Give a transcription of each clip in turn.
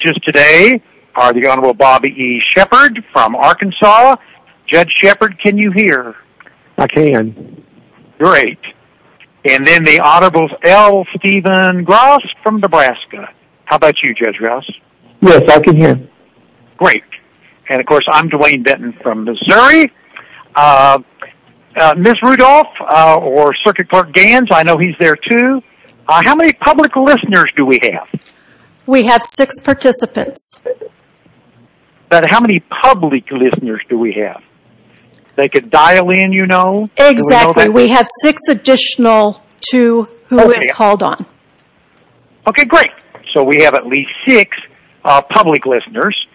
Judges today are the Honorable Bobby E. Shepard from Arkansas. Judge Shepard, can you hear? I can. Great. And then the Honorable L. Stephen Gross from Nebraska. How about you, Judge Gross? Yes, I can hear. Great. And of course, I'm Duane Benton from Missouri. Ms. Rudolph or Circuit Court Gans, I know he's there too. How many public listeners do we have? We have six participants. But how many public listeners do we have? They could dial in, you know? Exactly. We have six additional to who is called on. Okay, great. So we have at least six public listeners.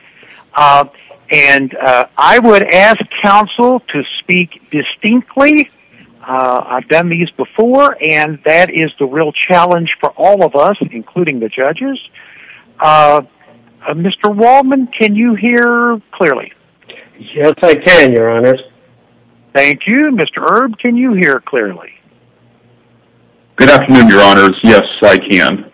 And I would ask counsel to speak distinctly. I've done these before, and that is the real challenge for all of us, including the judges. Mr. Waldman, can you hear clearly? Yes, I can, Your Honors. Thank you. Mr. Erb, can you hear clearly? Good afternoon, Your Honors. Yes, I can.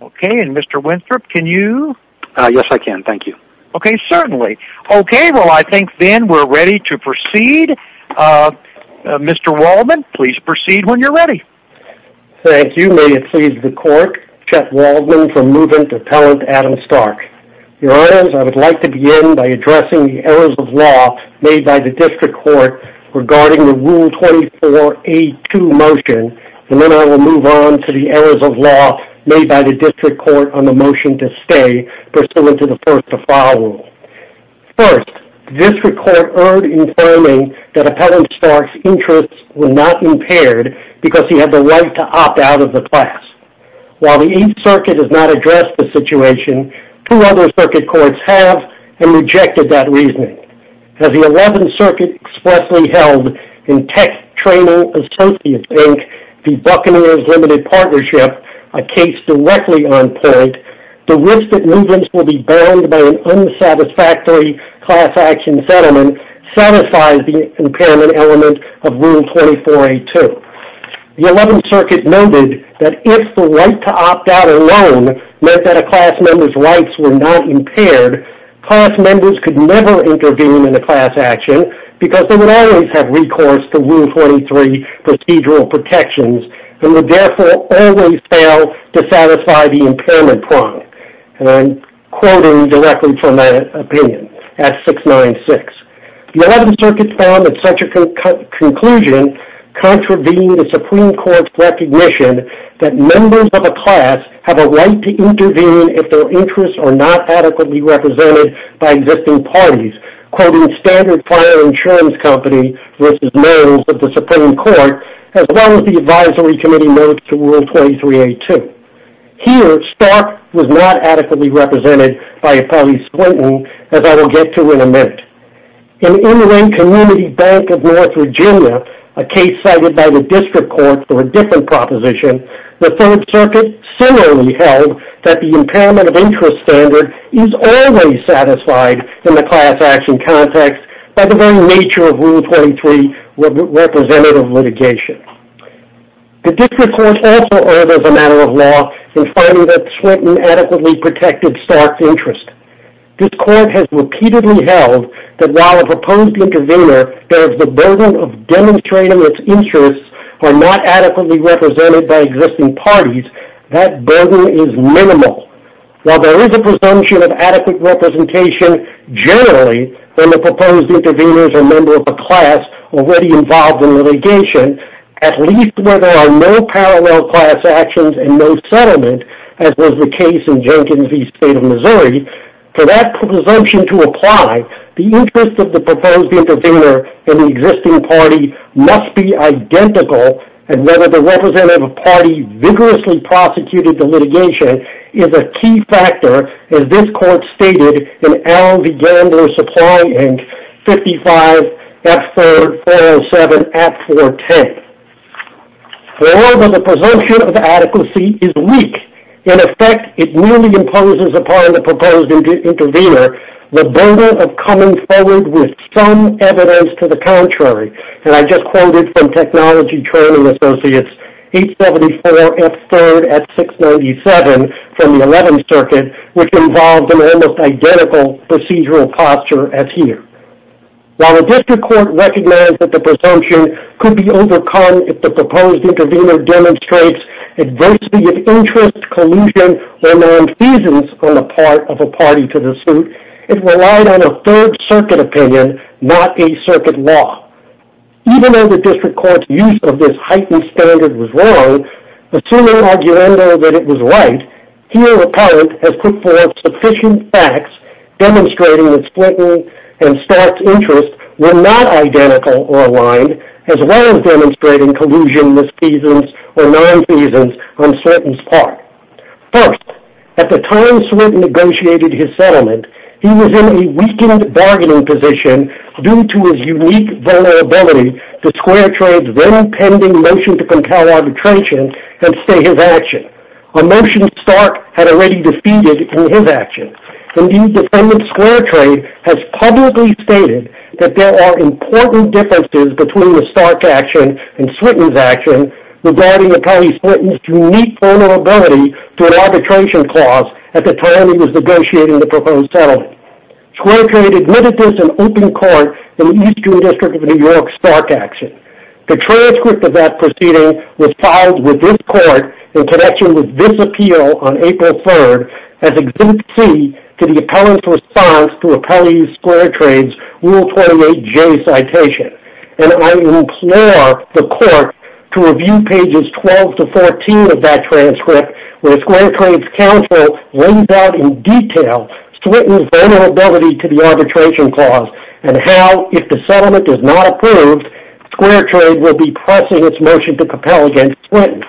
Okay. And Mr. Winthrop, can you? Yes, I can. Thank you. Okay, certainly. Okay, well, I think then we're ready to proceed. Mr. Waldman, please proceed when you're ready. Thank you. May it please the Court, Judge Waldman for movement Appellant Adam Stark. Your Honors, I would like to begin by addressing the errors of law made by the District Court regarding the Rule 24A2 motion, and then I will move on to the errors of law made by the District Court on the motion to stay pursuant to the first to file rule. First, District Court erred in claiming that Appellant Stark's interests were not impaired because he had the right to opt out of the class. While the 8th Circuit has not addressed the situation, two other circuit courts have and rejected that reasoning. As the 11th Circuit expressly held in Tech Training Associates, Inc., the Buccaneers Limited Partnership, a case directly on point, the risk that movements will be bound by an unsatisfactory class action settlement satisfies the impairment element of Rule 24A2. The 11th Circuit noted that if the right to opt out alone meant that a class member's rights were not impaired, class members could never intervene in a class action because they would always have recourse to Rule 23 procedural protections and would therefore always fail to satisfy the impairment prong. And I'm quoting directly from that opinion at 696. The 11th Circuit found that such a conclusion contravened the Supreme Court's recognition that members of a class have a right to intervene if their interests are not adequately represented by existing parties, quoting Standard Fire Insurance Company v. Merrill's of the Supreme Court, as well as the Advisory Committee notes to Rule 23A2. Here, stark was not adequately represented by a police acquaintance, as I will get to in a minute. In the Inland Community Bank of North Virginia, a case cited by the District Court for a different proposition, the 3rd Circuit similarly held that the impairment of interest standard is always satisfied in the class action context by the very nature of Rule 23 representative litigation. The District Court also urges a matter of law in finding that Swinton adequately protected stark's interest. This Court has repeatedly held that while a proposed intervener bears the burden of demonstrating its interests are not adequately represented by existing parties, that burden is minimal. While there are no parallel class actions and no settlement, as was the case in Jenkins v. State of Missouri, for that presumption to apply, the interest of the proposed intervener in the existing party must be identical, and whether the representative of a party vigorously prosecuted the litigation is a key factor, as this Court stated in L. V. Gandler's Supplying Inc. 55F3-407-410. However, the presumption of adequacy is weak. In effect, it merely imposes upon the proposed intervener the burden of coming forward with some evidence to the contrary. And I just want to point out that the presumption of adequacy in the proposed intervener in the existing party does not apply to the proposed intervener in the existing party. While the District Court recognized that the presumption could be overcome if the proposed intervener demonstrates adversity of interest, collusion, or nonfeasance on the part of a party, here a parent has put forth sufficient facts demonstrating that Splinton and Stark's interests were not identical or aligned, as well as demonstrating collusion, misfeasance, or nonfeasance on Splinton's part. First, at the time Splinton negotiated his settlement, he was in a weakened bargaining position due to his unique vulnerability to Square Trade's already pending motion to compel arbitration and stay his action, a motion Stark had already defeated in his action. Indeed, defendant Square Trade has publicly stated that there are important differences between the Stark action and Splinton's action regarding the police's unique vulnerability to an arbitration clause at the time he was negotiating the proposed settlement. Square Trade admitted this in open court in the Eastern District of New York's Stark action. The transcript of that proceeding was filed with this court in connection with this appeal on April 3rd as an exemptee to the appellant's response to appellee Square Trade's Rule 28J citation, and I implore the court to review pages 12 to 14 of that transcript, where Square Trade's counsel lays out in detail Splinton's vulnerability to the arbitration clause and how, if the settlement is not approved, Square Trade will be pressing its motion to compel against Splinton.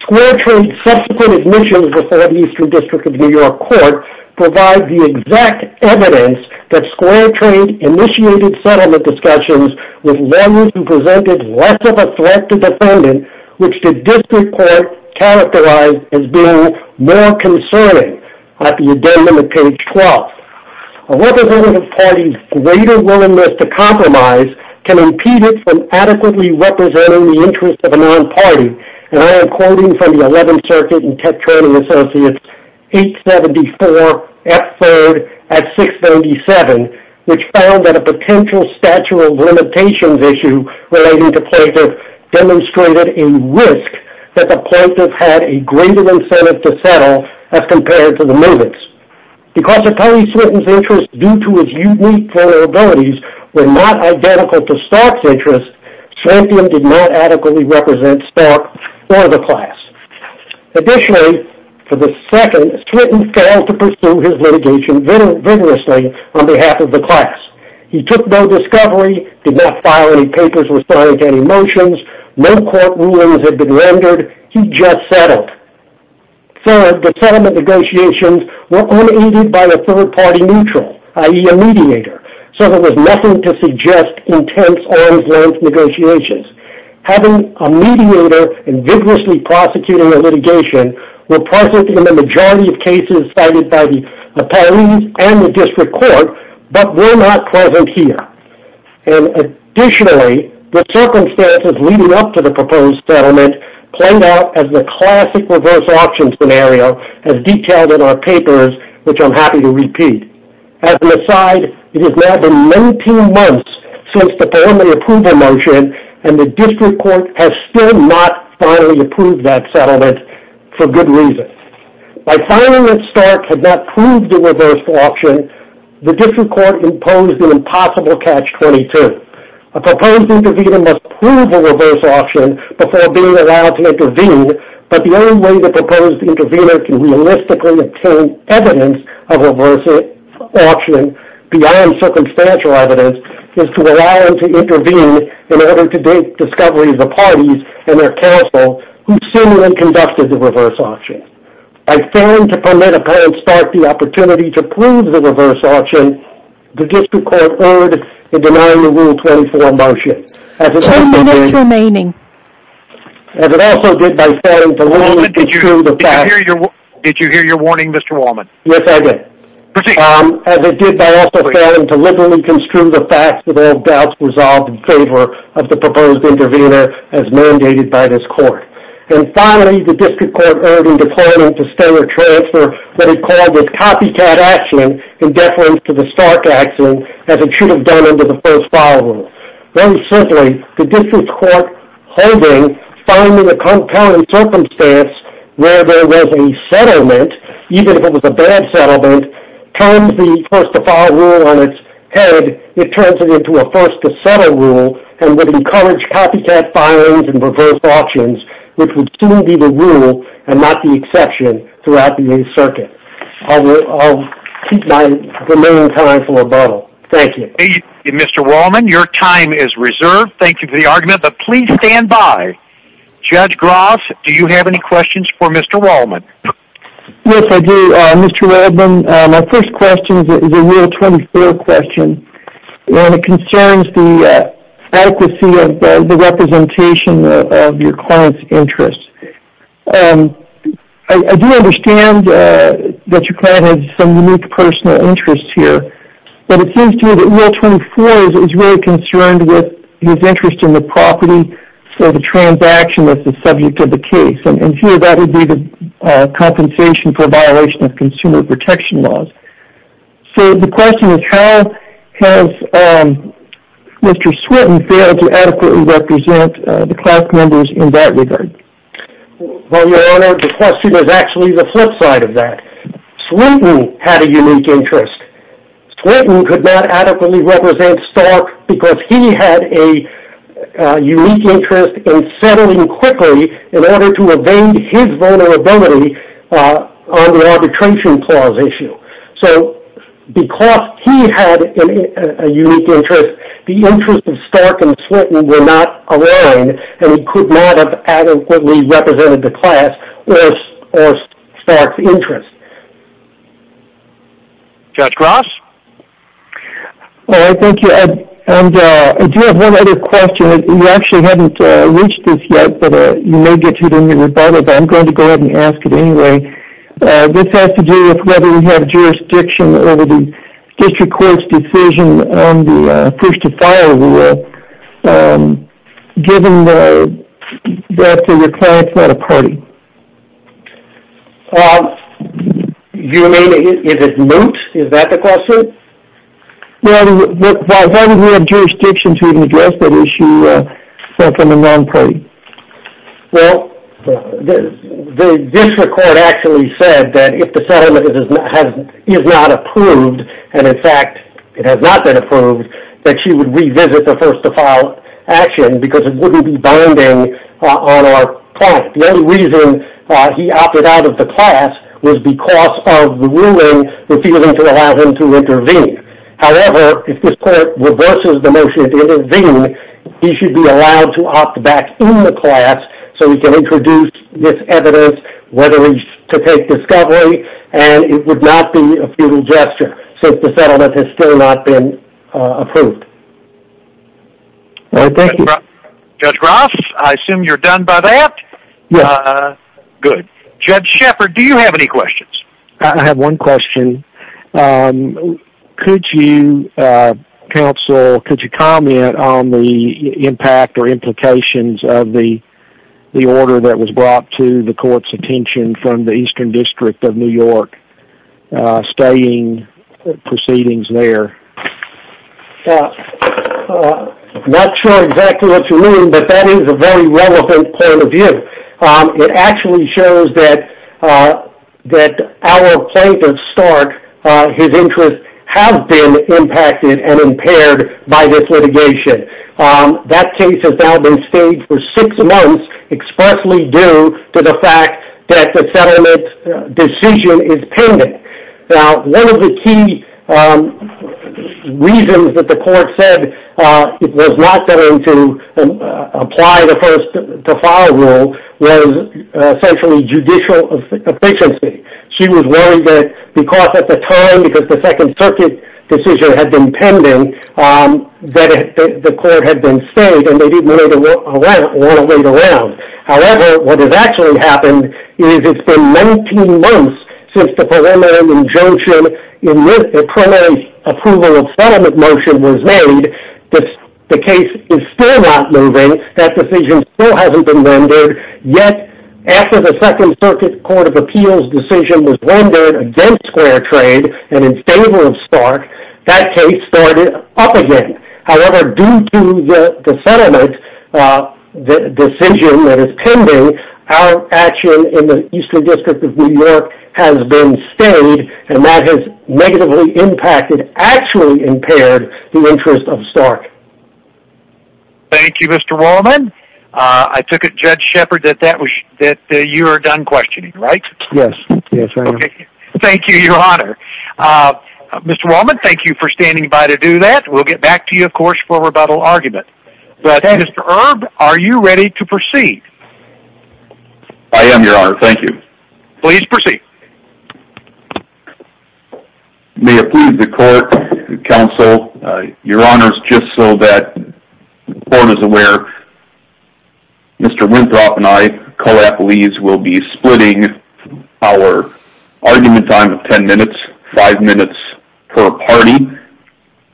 Square Trade's subsequent admissions before the Eastern District of New York court provide the exact evidence that Square Trade initiated settlement discussions with lawyers who presented less of a threat to the defendant, which the A representative party's greater willingness to compromise can impede it from adequately representing the interests of a non-party, and I am quoting from the 11th Circuit and Tech Training Associates 874 F. 3rd at 697, which found that a potential statute of limitations issue relating to plaintiff demonstrated a risk that the plaintiff had a greater incentive to settle as compared to the movants. Because appellee Splinton's interests, due to his unique vulnerabilities, were not identical to Stark's interests, Splinton did not adequately represent Stark or the class. Additionally, for the second, Splinton failed to pursue his litigation vigorously on behalf of the class. He took no discovery, did not file any motions, no court rulings had been rendered, he just settled. Third, the settlement negotiations were unaided by a third-party neutral, i.e. a mediator, so there was nothing to suggest intense, arm's-length negotiations. Having a mediator and vigorously prosecuting a litigation were present in the majority of cases cited by the appellees and the district court, but were not present here. Additionally, the circumstances leading up to the proposed settlement played out as the classic reverse option scenario as detailed in our papers, which I am happy to repeat. As an aside, it has now been 19 months since the preliminary approval motion and the district court has still not finally approved that settlement for good reason. By filing that Stark had not proved a reverse option, the district court imposed an impossible catch-22. A proposed intervener must prove a reverse option before being allowed to intervene, but the only way the proposed intervener can realistically obtain evidence of a reverse option beyond circumstantial evidence is to allow him to intervene in order to date discovery of the parties and their counsel who similarly conducted the reverse option. By failing to permit a parent Stark the opportunity to prove the opposite, the district court erred in denying the Rule 24 motion. As it also did by failing to liberally construe the facts of all doubts resolved in favor of the proposed intervener as mandated by this court. And finally, the district court erred in declaring to stay or transfer what it called a copycat action in deference to the Stark action as it should have done under the first file rule. Very simply, the district court holding, finding a compelling circumstance where there was a settlement, even if it was a bad settlement, turns the first to file rule on its head, it turns it into a first to settle rule and would encourage copycat filings and reverse options, which would soon be the rule and not the exception throughout the new circuit. I'll keep my remaining time for rebuttal. Thank you. Mr. Wallman, your time is reserved. Thank you for the argument, but please stand by. Judge Groth, do you have any questions for Mr. Wallman? Yes, I do, Mr. Waldman. My first question is a Rule 24 question, and it concerns the adequacy of the representation of your client's interest. I do understand that your client has some unique personal interest here, but it seems to me that Rule 24 is really concerned with his interest in the property, so the transaction is the subject of the case, and here that would be the compensation for violation of consumer protection laws. So the question is how has Mr. Swinton failed to adequately represent the class members in that regard? Well, Your Honor, the question is actually the flip side of that. Swinton had a unique interest. Swinton could not adequately represent Stark because he had a unique interest in settling quickly in order to evade his vulnerability on the arbitration clause issue. So because he had a unique interest, the interest of Stark and Swinton were not aligned, and he could not have adequately represented the class or Stark's interest. Judge Groth? Thank you, and I do have one other question. We actually haven't reached this yet, but you may get to it in your rebuttal, but I'm going to go ahead and ask it anyway. This has to do with whether we have jurisdiction over the district court's decision on the push-to-fire rule, given that the client's not a party. You mean, is it moot? Is that the question? Well, why would we have jurisdiction to even address that issue if I'm a non-party? Well, the district court actually said that if the settlement is not approved, and in fact it has not been approved, that she would revisit the first-to-file action because it wouldn't be binding on our client. The only reason he opted out of the class was because of the ruling refusing to allow him to intervene. However, if this court reverses the motion to intervene, he should be allowed to opt back in the class so he can introduce this evidence, whether he's to take discovery, and it would not be a futile gesture since the settlement has still not been approved. Thank you. Judge Groth, I assume you're done by that? Yes. Good. Judge Shepard, do you have any questions? I have one question. Could you comment on the impact or implications of the order that was brought to the court's attention from the Eastern District of New York stating proceedings there? Not sure exactly what you mean, but that is a very relevant point of view. It actually shows that our plaintiff, Stark, his interests have been impacted and impaired by this litigation. That case has now been staged for six months expressly due to the fact that the settlement decision is pending. Now, one of the key reasons that the court said it was not going to apply the first to file rule was essentially judicial efficiency. She was worried that because at the time, because the Second Circuit decision had been pending, that the court had been staged and they didn't want to wait around. However, what has actually happened is it's been 19 months since the preliminary injunction, the preliminary approval of settlement motion was made. The case is still not moving. That decision still hasn't been rendered. Yet, after the Second Circuit Court of Appeals decision was rendered against Square Trade and in favor of Stark, that case started up again. However, due to the settlement decision that is pending, our action in the Eastern District of New York has been staged and that has negatively impacted, actually impaired, the interest of Stark. Thank you, Mr. Wallman. I took it, Judge Shepard, that you are done questioning, right? Yes. Yes, Your Honor. Thank you, Your Honor. Mr. Wallman, thank you for standing by to do that. We'll get back to you, of course, for rebuttal argument. But, Mr. Erb, are you ready to proceed? I am, Your Honor. Thank you. Please proceed. May it please the Court, Counsel, Your Honors, just so that the Court is aware, Mr. Winthrop and I, co-appellees, will be splitting our argument time of 10 minutes, 5 minutes per party,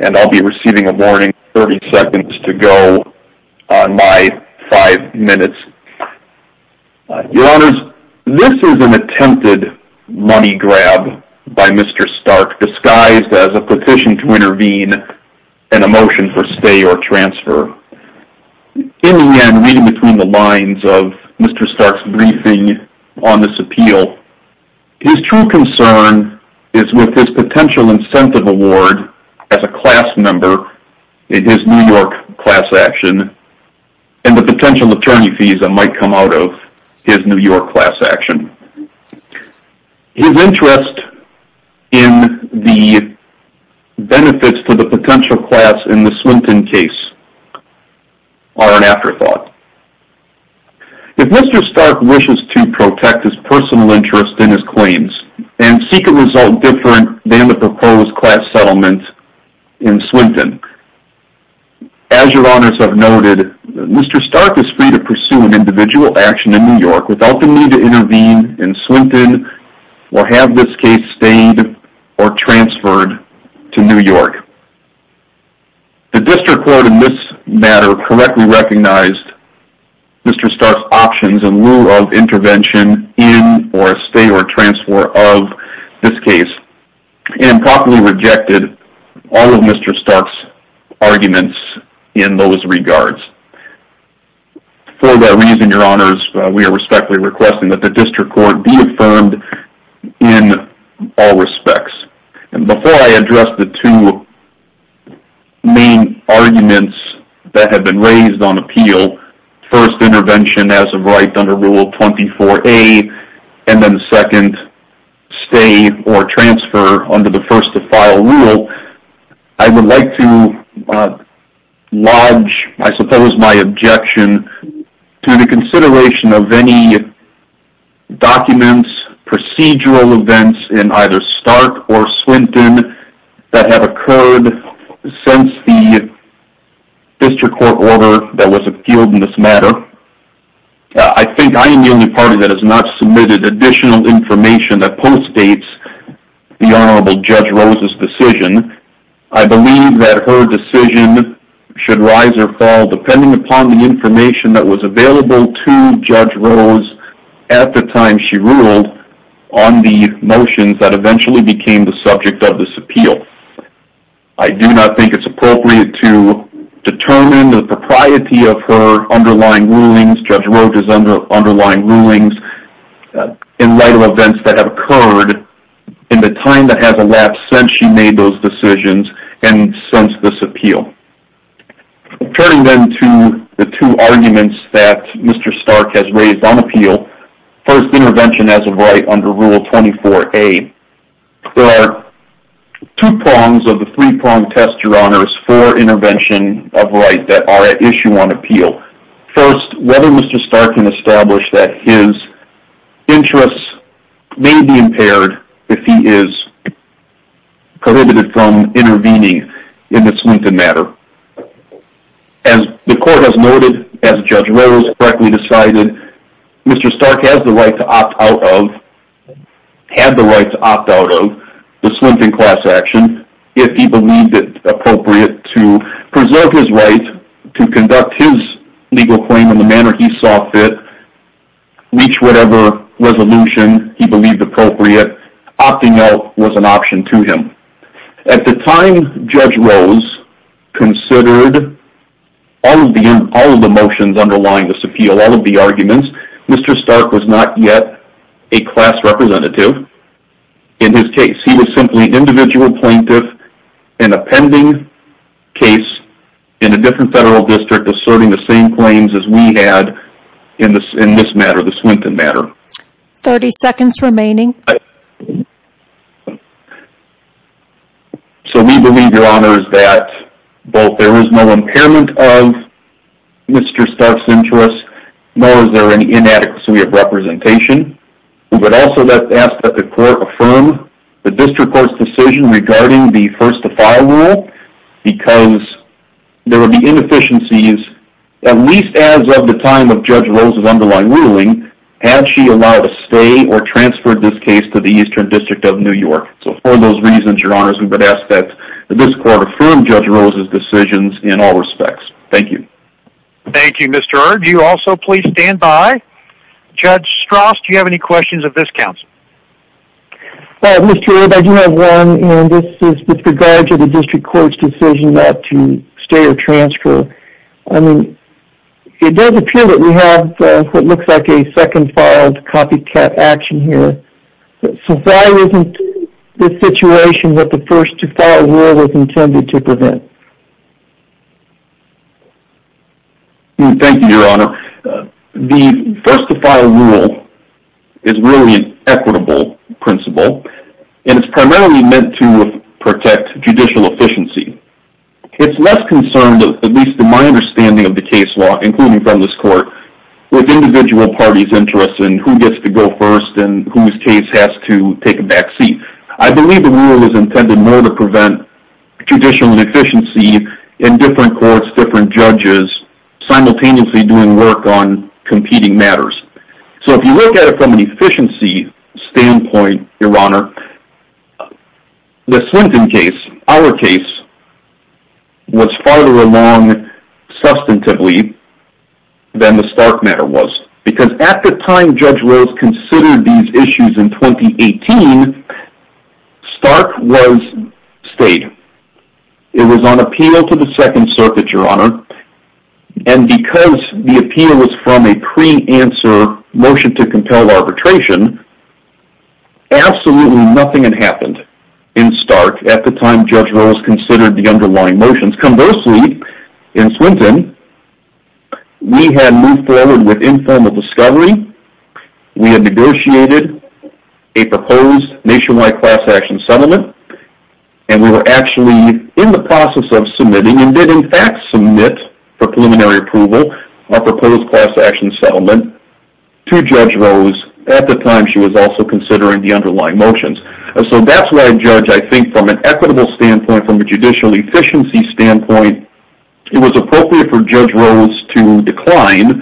and I'll be receiving a warning 30 seconds to go on my 5 minutes. Your Honors, this is an attempted money grab by Mr. Stark disguised as a petition to intervene and a motion for stay or transfer. In the end, reading between the lines of Mr. Stark's briefing on this appeal, his true concern is with his potential incentive award as a class member in his New York class action and the potential attorney visa might come out of his New York class action. His interest in the benefits to the potential class in the Swinton case are an afterthought. If Mr. Stark wishes to protect his personal interest in his claims and seek a result different than the proposed class settlement in Swinton, as Your Honors have noted, Mr. Stark is free to pursue an individual action in New York without the need to intervene in Swinton or have this case stayed or transferred to New York. The District Court in this matter correctly recognized Mr. Stark's options in lieu of intervention in or stay or transfer of this case and properly rejected all of Mr. Stark's arguments in those regards. For that reason, Your Honors, we are respectfully requesting that the District Court be affirmed in all respects. Before I address the two main arguments that have arrived under Rule 24A and then the second stay or transfer under the first to file rule, I would like to lodge, I suppose, my objection to the consideration of any documents, procedural events in either Stark or Swinton that have occurred since the District Court order that was appealed in this matter. I think I am the only party that has not submitted additional information that postdates the Honorable Judge Rose's decision. I believe that her decision should rise or fall depending upon the information that was available to Judge Rose at the time she ruled on the motions that eventually became the subject of this appeal. I do not think it's appropriate to determine the propriety of her underlying rulings, Judge Rose's underlying rulings, in light of events that have occurred in the time that has elapsed since she made those decisions and since this appeal. Turning then to the two arguments that Mr. Stark has raised on appeal, first, intervention has a right under Rule 24A. There are two prongs of the three-pronged test, Your Honors, for intervention of right that are at issue on appeal. First, whether Mr. Stark can establish that his interests may be impaired if he is prohibited from intervening in the Swinton matter. As the Court has noted, as Judge Rose correctly decided, Mr. Stark has the right to opt out of, had the right to opt out of, the Swinton class action if he believed it appropriate to preserve his right to conduct his legal claim in the manner he saw fit, reach whatever resolution he believed appropriate. Opting out was an option to him. At the time Judge Rose considered all of the motions underlying this appeal, all of the arguments, Mr. Stark was not yet a class representative in his case. He was simply an individual plaintiff in a pending case in a different federal district asserting the same claims as we had in this matter, the Swinton matter. Thirty seconds remaining. So we believe, Your Honors, that both there is no impairment of Mr. Stark's interests, nor is there any inadequacy of representation. We would also like to ask that the Court affirm the District Court's decision regarding the first to file rule, because there would be inefficiencies, at least as of the time of Judge Rose's underlying ruling, had she allowed to stay or transferred this case to the Eastern District of New York. So for those reasons, Your Honors, we would ask that this Court affirm Judge Rose's decisions in all respects. Thank you. Thank you, Mr. Eard. Do you also please stand by? Judge Strauss, do you have any questions of this counsel? Mr. Eard, I do have one, and this is with regard to the District Court's decision not to stay or transfer. I mean, it does appear that we have what looks like a second filed copycat action here. So why isn't this situation what the first to file rule was intended to prevent? Thank you, Your Honor. The first to file rule is really an equitable principle, and it's primarily meant to protect judicial efficiency. It's less concerned, at least in my understanding of the case law, including from this Court, with individual parties' interests and who gets to go first and whose case has to take a back seat. I believe the different courts, different judges simultaneously doing work on competing matters. So if you look at it from an efficiency standpoint, Your Honor, the Swinton case, our case, was farther along substantively than the Stark matter was. Because at the time Judge Rose considered these issues in 2018, Stark was state. It was on appeal to the Second Circuit, Your Honor, and because the appeal was from a pre-answer motion to compel arbitration, absolutely nothing had happened in Stark at the time Judge Rose considered the underlying motions. Conversely, in Swinton, we had moved forward with informal discovery. We had negotiated a proposed nationwide class action settlement, and we were actually in the process of submitting and did in fact submit for preliminary approval a proposed class action settlement to Judge Rose at the time she was also considering the underlying motions. So that's why Judge, I think from an equitable standpoint, from a judicial efficiency standpoint, it was appropriate for Judge Rose to decline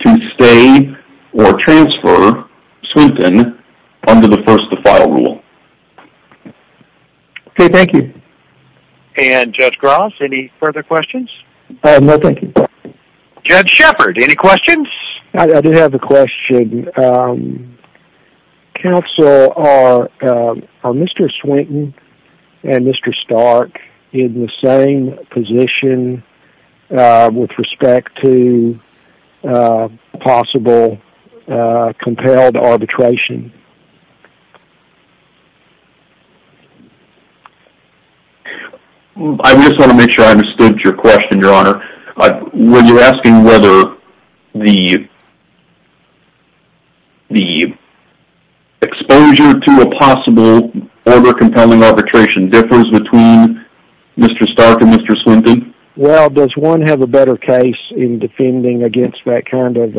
to stay or transfer Swinton under the first-to-file rule. Okay, thank you. And Judge Gross, any further questions? No, thank you. Judge Shepard, any questions? I do have a question. Counsel, are Mr. Swinton and Mr. Stark in the same position with respect to possible compelled arbitration? I just want to make sure I understood your question, Your Honor. Were you asking whether the exposure to a possible order compelling arbitration differs between Mr. Stark and Mr. Swinton? Well, does one have a better case in defending against that kind of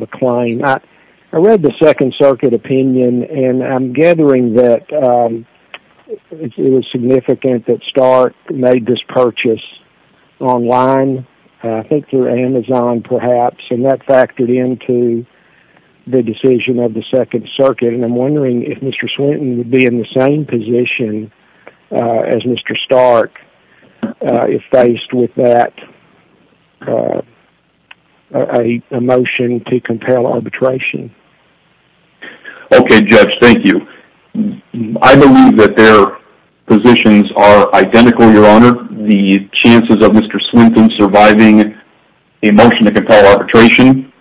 a claim? I read the Second Circuit opinion, and I'm gathering that it was significant that Stark made this purchase online, I think through Amazon perhaps, and that factored into the decision of the Second Circuit, and I'm wondering if Mr. Swinton would be in the same position as Mr. Stark if faced with that, a motion to compel arbitration. Okay, Judge, thank you. I believe that their positions are identical, Your Honor. The chances of Mr. Swinton surviving a motion to compel arbitration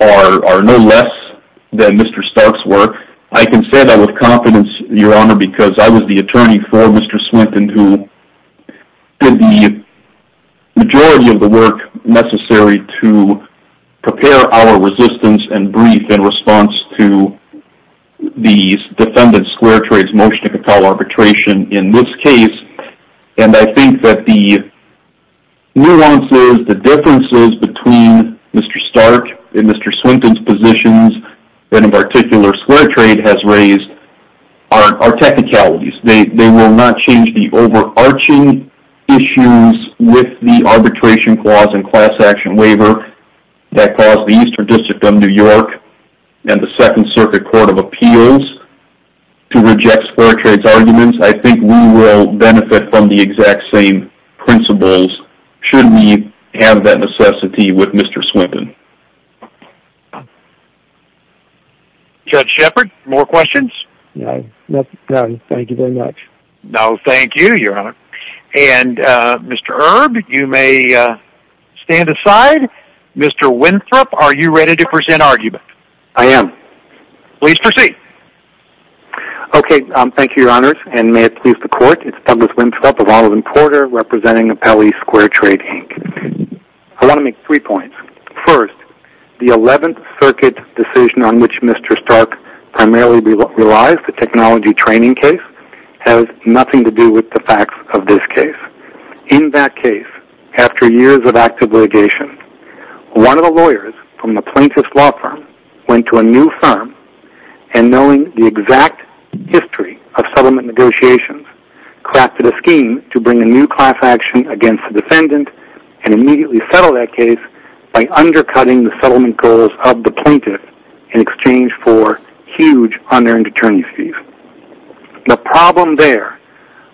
are no less than Mr. Stark's were. I can say that with confidence, Your Honor, because I was the attorney for Mr. Swinton who did the majority of the work necessary to prepare our resistance and brief in response to the defendant's Square Trades motion to compel arbitration in this case, and I think that the nuances, the differences between Mr. Stark and Mr. Swinton's positions, and in particular Square Trade has raised, are technicalities. They will not change the overarching issues with the arbitration clause and class action waiver that caused the Eastern District of New York and the Second Circuit Court of Appeals to reject Square Trade's arguments. I think we will benefit from the exact same principles should we have that necessity with Mr. Swinton. Judge Shepard, more questions? No, thank you very much. No, thank you, Your Honor. And Mr. Erb, you may stand aside. Mr. Winthrop, are you ready to present argument? I am. Please proceed. Okay, thank you, Your Honor, and may it please the Court, it's Douglas Winthrop of Olive First, the Eleventh Circuit decision on which Mr. Stark primarily relies, the technology training case, has nothing to do with the facts of this case. In that case, after years of active litigation, one of the lawyers from the plaintiff's law firm went to a new firm and knowing the exact history of settlement negotiations, crafted a scheme to bring a new class action against the defendant and immediately settle that case by undercutting the settlement goals of the plaintiff in exchange for huge unearned attorney's fees. The problem there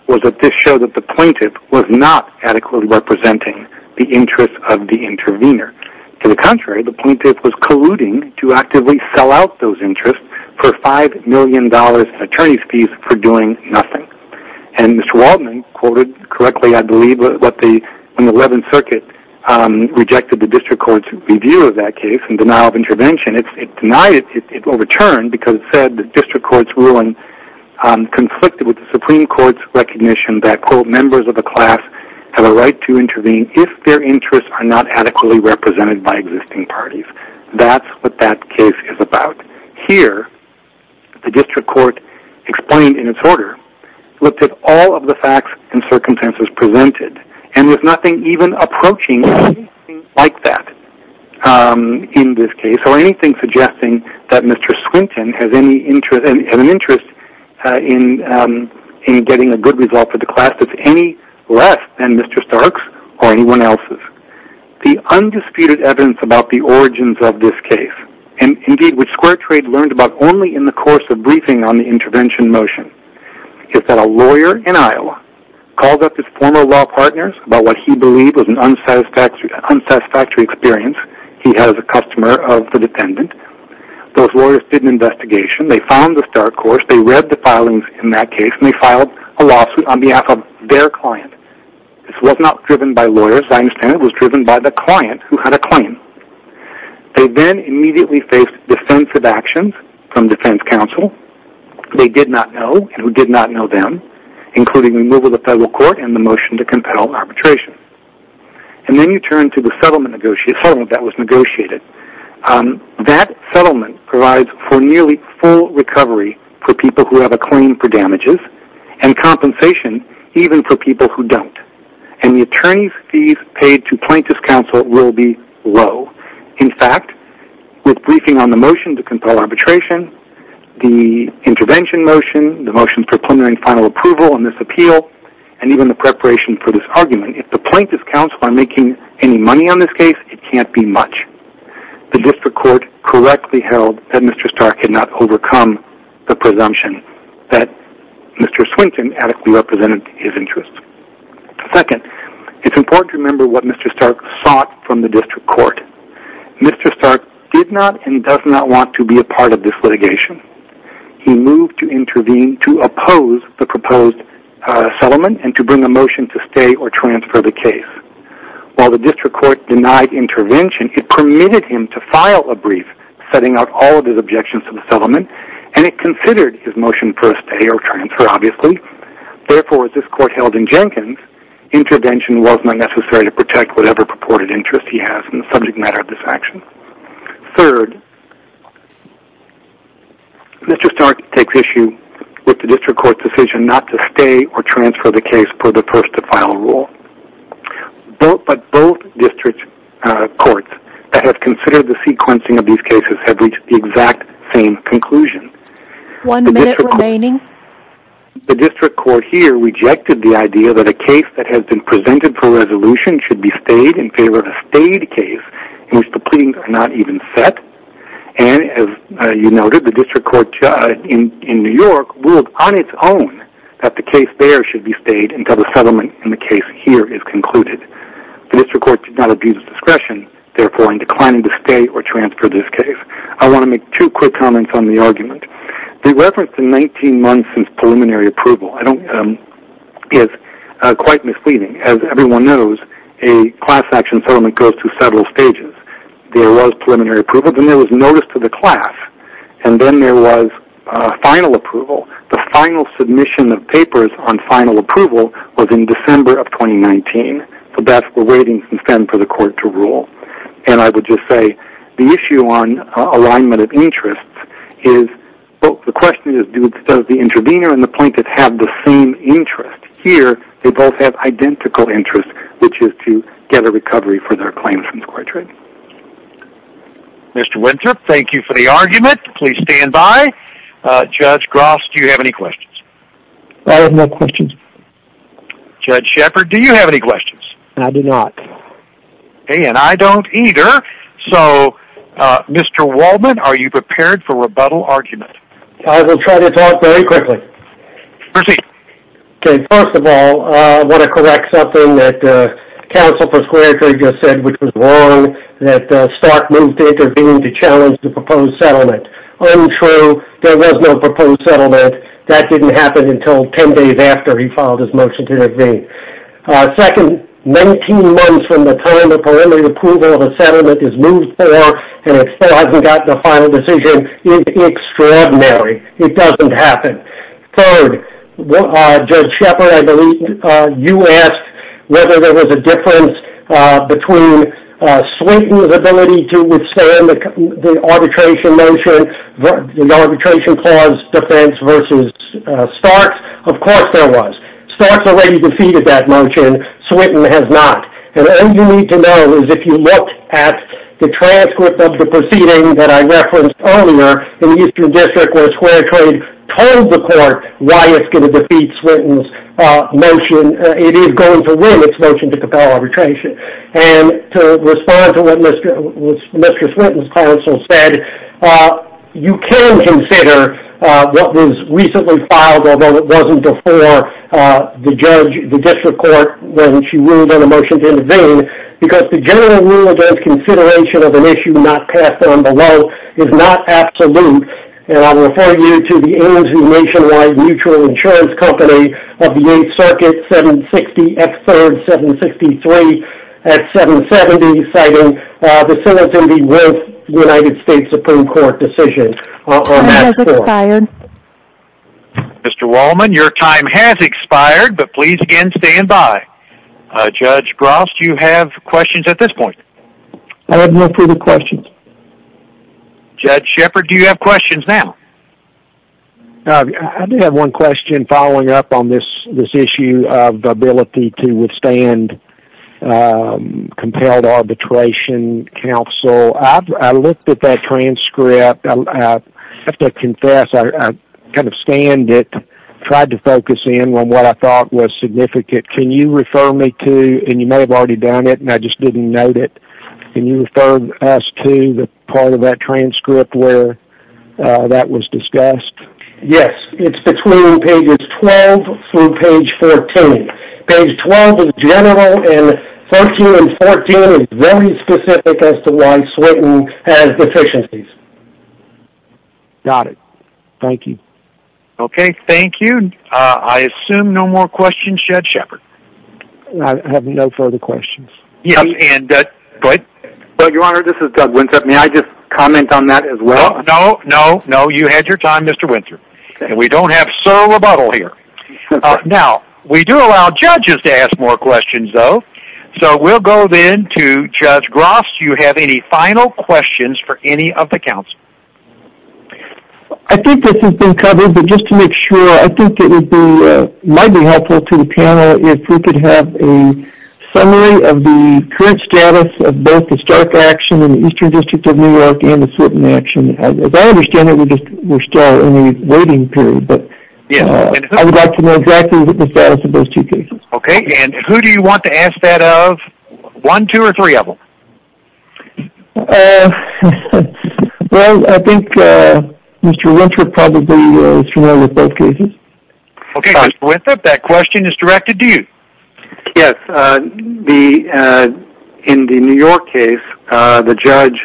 was that this showed that the plaintiff was not adequately representing the interests of the intervener. To the contrary, the plaintiff was colluding to actively sell out those interests for $5 million in attorney's fees for doing nothing. And Mr. Waltman quoted correctly, I believe, when the Eleventh Circuit rejected the District Court's review of that case and denial of intervention, it denied it, it overturned because it said the District Court's ruling conflicted with the Supreme Court's recognition that, quote, members of the class have a right to intervene if their interests are not adequately represented by existing parties. That's what that case is about. Here, the District Court explained in its order, looked at all of the facts and circumstances presented and there's nothing even approaching anything like that in this case or anything suggesting that Mr. Swinton has any interest in getting a good result for the class that's any less than Mr. Stark's or anyone else's. The undisputed evidence about the origins of this case and, indeed, which Square Trade learned about only in the course of briefing on the intervention motion is that a lawyer in Iowa called up his former law partners about what he believed was an unsatisfactory experience he had as a customer of the defendant. Those lawyers did an investigation. They found the Stark course. They read the filings in that case and they filed a lawsuit on behalf of their client. This was not driven by lawyers. I understand it was driven by the client who had a claim. They then immediately faced defensive actions from defense counsel they did not know and who did not know them, including removal of the federal court and the motion to compel arbitration. Then you turn to the settlement that was negotiated. That settlement provides for nearly full recovery for people who have a claim for damages and compensation even for people who don't. And the attorney's fees paid to plaintiff's counsel will be low. In fact, with briefing on the motion to compel arbitration, the intervention motion, the motion for preliminary final approval on this appeal, and even the preparation for this argument, if the plaintiff's counsel are making any money on this case, it can't be much. The district court correctly held that Mr. Stark had not overcome the presumption that Mr. Swinton adequately represented his client. Second, it's important to remember what Mr. Stark sought from the district court. Mr. Stark did not and does not want to be a part of this litigation. He moved to intervene to oppose the proposed settlement and to bring a motion to stay or transfer the case. While the district court denied intervention, it permitted him to file a brief setting out all of his objections to the settlement and it considered his motion for a stay or transfer, obviously. Therefore, as this court held in Jenkins, intervention was not necessary to protect whatever purported interest he has in the subject matter of this action. Third, Mr. Stark takes issue with the district court's decision not to stay or transfer the case per the first to final rule. But both district courts that have considered the sequencing of these cases have reached the exact same conclusion. One minute remaining. The district court here rejected the idea that a case that has been presented for resolution should be stayed in favor of a stayed case in which the pleadings are not even set. And as you noted, the district court in New York ruled on its own that the case there should be stayed until the settlement in the case here is concluded. The district court did not abuse discretion, therefore in declining to stay or transfer this case. I want to make two quick comments on the argument. The reference to 19 months since preliminary approval is quite misleading. As everyone knows, a class action settlement goes through several stages. There was preliminary approval, then there was notice to the class, and then there was final approval. The final submission of papers on final approval was in December of 2019. So that's the waiting time for the court to rule. And I would just say the issue on alignment of interests is, well, the question is, does the intervener and the plaintiff have the same interest? Here, they both have identical interests, which is to get a recovery for their claims from square trading. Mr. Winthrop, thank you for the argument. Please stand by. Judge Gross, do you have any questions? I have no questions. Judge Shepard, do you have any questions? I do not. And I don't either. So, Mr. Waldman, are you prepared for rebuttal argument? I will try to talk very quickly. Proceed. Okay, first of all, I want to correct something that counsel for square trading just said, which was wrong, that Stark moved to intervene to challenge the proposed settlement. Untrue. There was no proposed settlement. That didn't happen until 10 days after he filed his motion to intervene. Second, 19 months from the time the preliminary approval of the settlement is moved for, and it still hasn't gotten a final decision, is extraordinary. It doesn't happen. Third, Judge Shepard, I believe you asked whether there was a difference between Sweeten's ability to withstand the arbitration clause defense versus Stark's. Of course there was. Stark's already defeated that motion. Sweeten has not. And all you need to know is if you look at the transcript of the proceeding that I referenced earlier in the Eastern District where square trade told the court why it's going to defeat Sweeten's motion, it is going to win its motion to compel arbitration. And to respond to what Mr. Sweeten's counsel said, you can consider what was recently filed, although it wasn't before the judge, the district court, when she ruled on a motion to intervene, because the general rule against consideration of an issue not passed down below is not absolute. And I'll refer you to the Ames New Nationwide Mutual Insurance Company of the 8th Circuit, 760 F. 3rd, 763 F. 770, citing the citizenry with the United States Supreme Court decision. Time has expired. Mr. Wallman, your time has expired, but please again stand by. Judge Gross, do you have questions at this point? I have no further questions. Judge Shepard, do you have questions now? I do have one question following up on this issue of the ability to withstand compelled arbitration counsel. I looked at that transcript, I have to confess I kind of scanned it, tried to focus in on what I thought was significant. Can you refer me to, and you may have already done it and I just didn't note it, can you refer us to the part of that transcript where that was discussed? Yes, it's between pages 12 through page 14. Page 12 in general and 13 and 14 is very specific as to why Slayton has deficiencies. Got it. Thank you. Okay, thank you. I assume no more questions, Judge Shepard? I have no further questions. Go ahead. Your Honor, this is Doug Winthrop. May I just comment on that as well? No, no, no. You had your time, Mr. Winthrop, and we don't have solo rebuttal here. Now, we do allow judges to ask more questions though, so we'll go then to Judge Gross. Do you have any final questions for any of the counsel? I think this has been covered, but just to make sure, I think it might be helpful to the panel if we could have a summary of the current status of both the Stark action in the Eastern District of New York and the Slayton action. As I understand it, we're still in a waiting period, but I would like to know exactly the status of those two cases. Okay, and who do you want to ask that of? One, two, or three of them? Well, I think Mr. Winthrop probably is familiar with both cases. Okay, Mr. Winthrop, that question is directed to you. Yes. In the New York case, the judge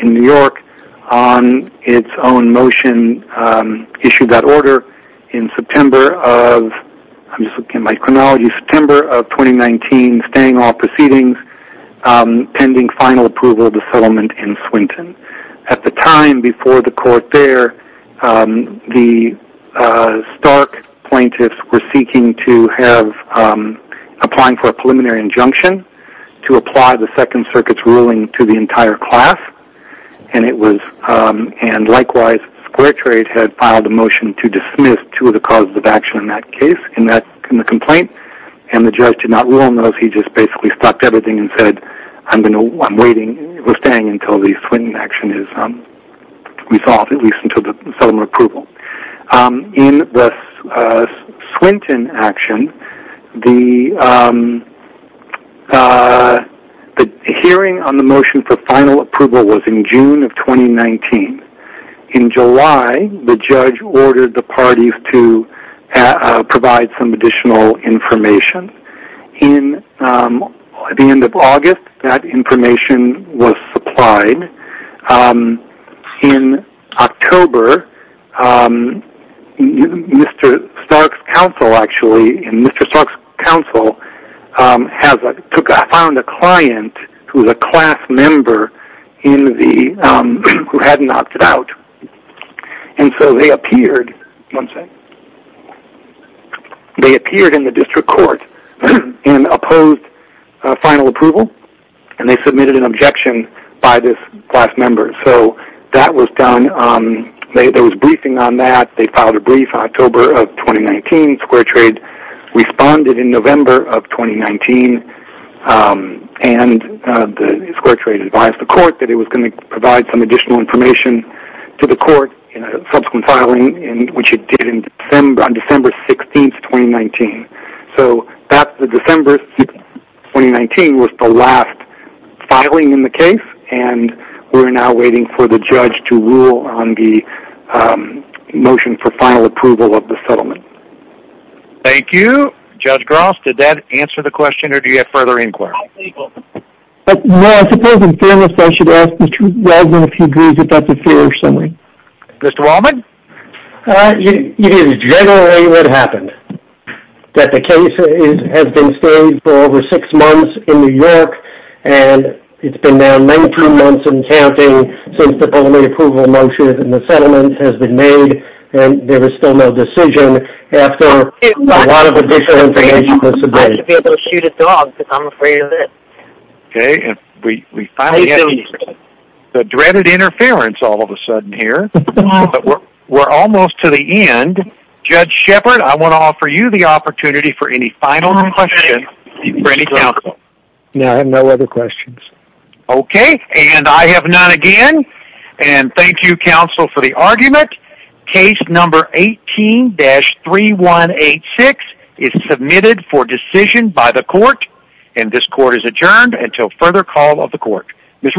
in New York, on its own motion, issued that order in September of, I'm just looking at my chronology, September of 2019, staying all proceedings, pending final approval of the settlement in Swinton. At the time before the court there, the Stark plaintiffs were seeking to have, applying for a preliminary injunction to apply the Second Circuit's ruling to the entire class, and likewise, Square Trade had filed a motion to dismiss two of the causes of action in that case, in the complaint, and the judge did not rule on those, he just basically stopped everything and said, I'm waiting, we're staying until the Swinton action is resolved, at least until the settlement approval. In the Swinton action, the hearing on the motion for final approval was in June of 2019. In July, the judge ordered the parties to provide some additional information. At the end of August, that information was supplied. In October, Mr. Stark's counsel, actually, Mr. Stark's counsel found a client who was a class member who had knocked it out, and so they appeared in the district court and opposed final approval, and they submitted an objection by this class member, so that was done, there was a briefing on that, they filed a brief in October of 2019, Square Trade responded in November of 2019, and Square Trade advised the court that it was going to provide some additional information to the court in a subsequent filing, which it did on December 16th, 2019, so that December 2019 was the last filing in the case, and we're now waiting for the judge to rule on the motion for final approval of the settlement. Thank you. Judge Gross, did that answer the question, or do you have further inquiry? Well, I suppose in fairness, I should ask Mr. Waldman if he agrees with that conclusion. Mr. Waldman? It is generally what happened, that the case has been standing for over six months in New York, and it's been now 19 months and counting since the final approval motion in the settlement has been made, and there was still no decision after a lot of additional information was Okay, and we finally have the dreaded interference all of a sudden here, but we're almost to the end. Judge Shepard, I want to offer you the opportunity for any final questions for any counsel. No, I have no other questions. Okay, and I have none again, and thank you, counsel, for the argument. Case number 18-3186 is submitted for decision by the court, and this court is adjourned until further call of the court. Ms. Rudolph.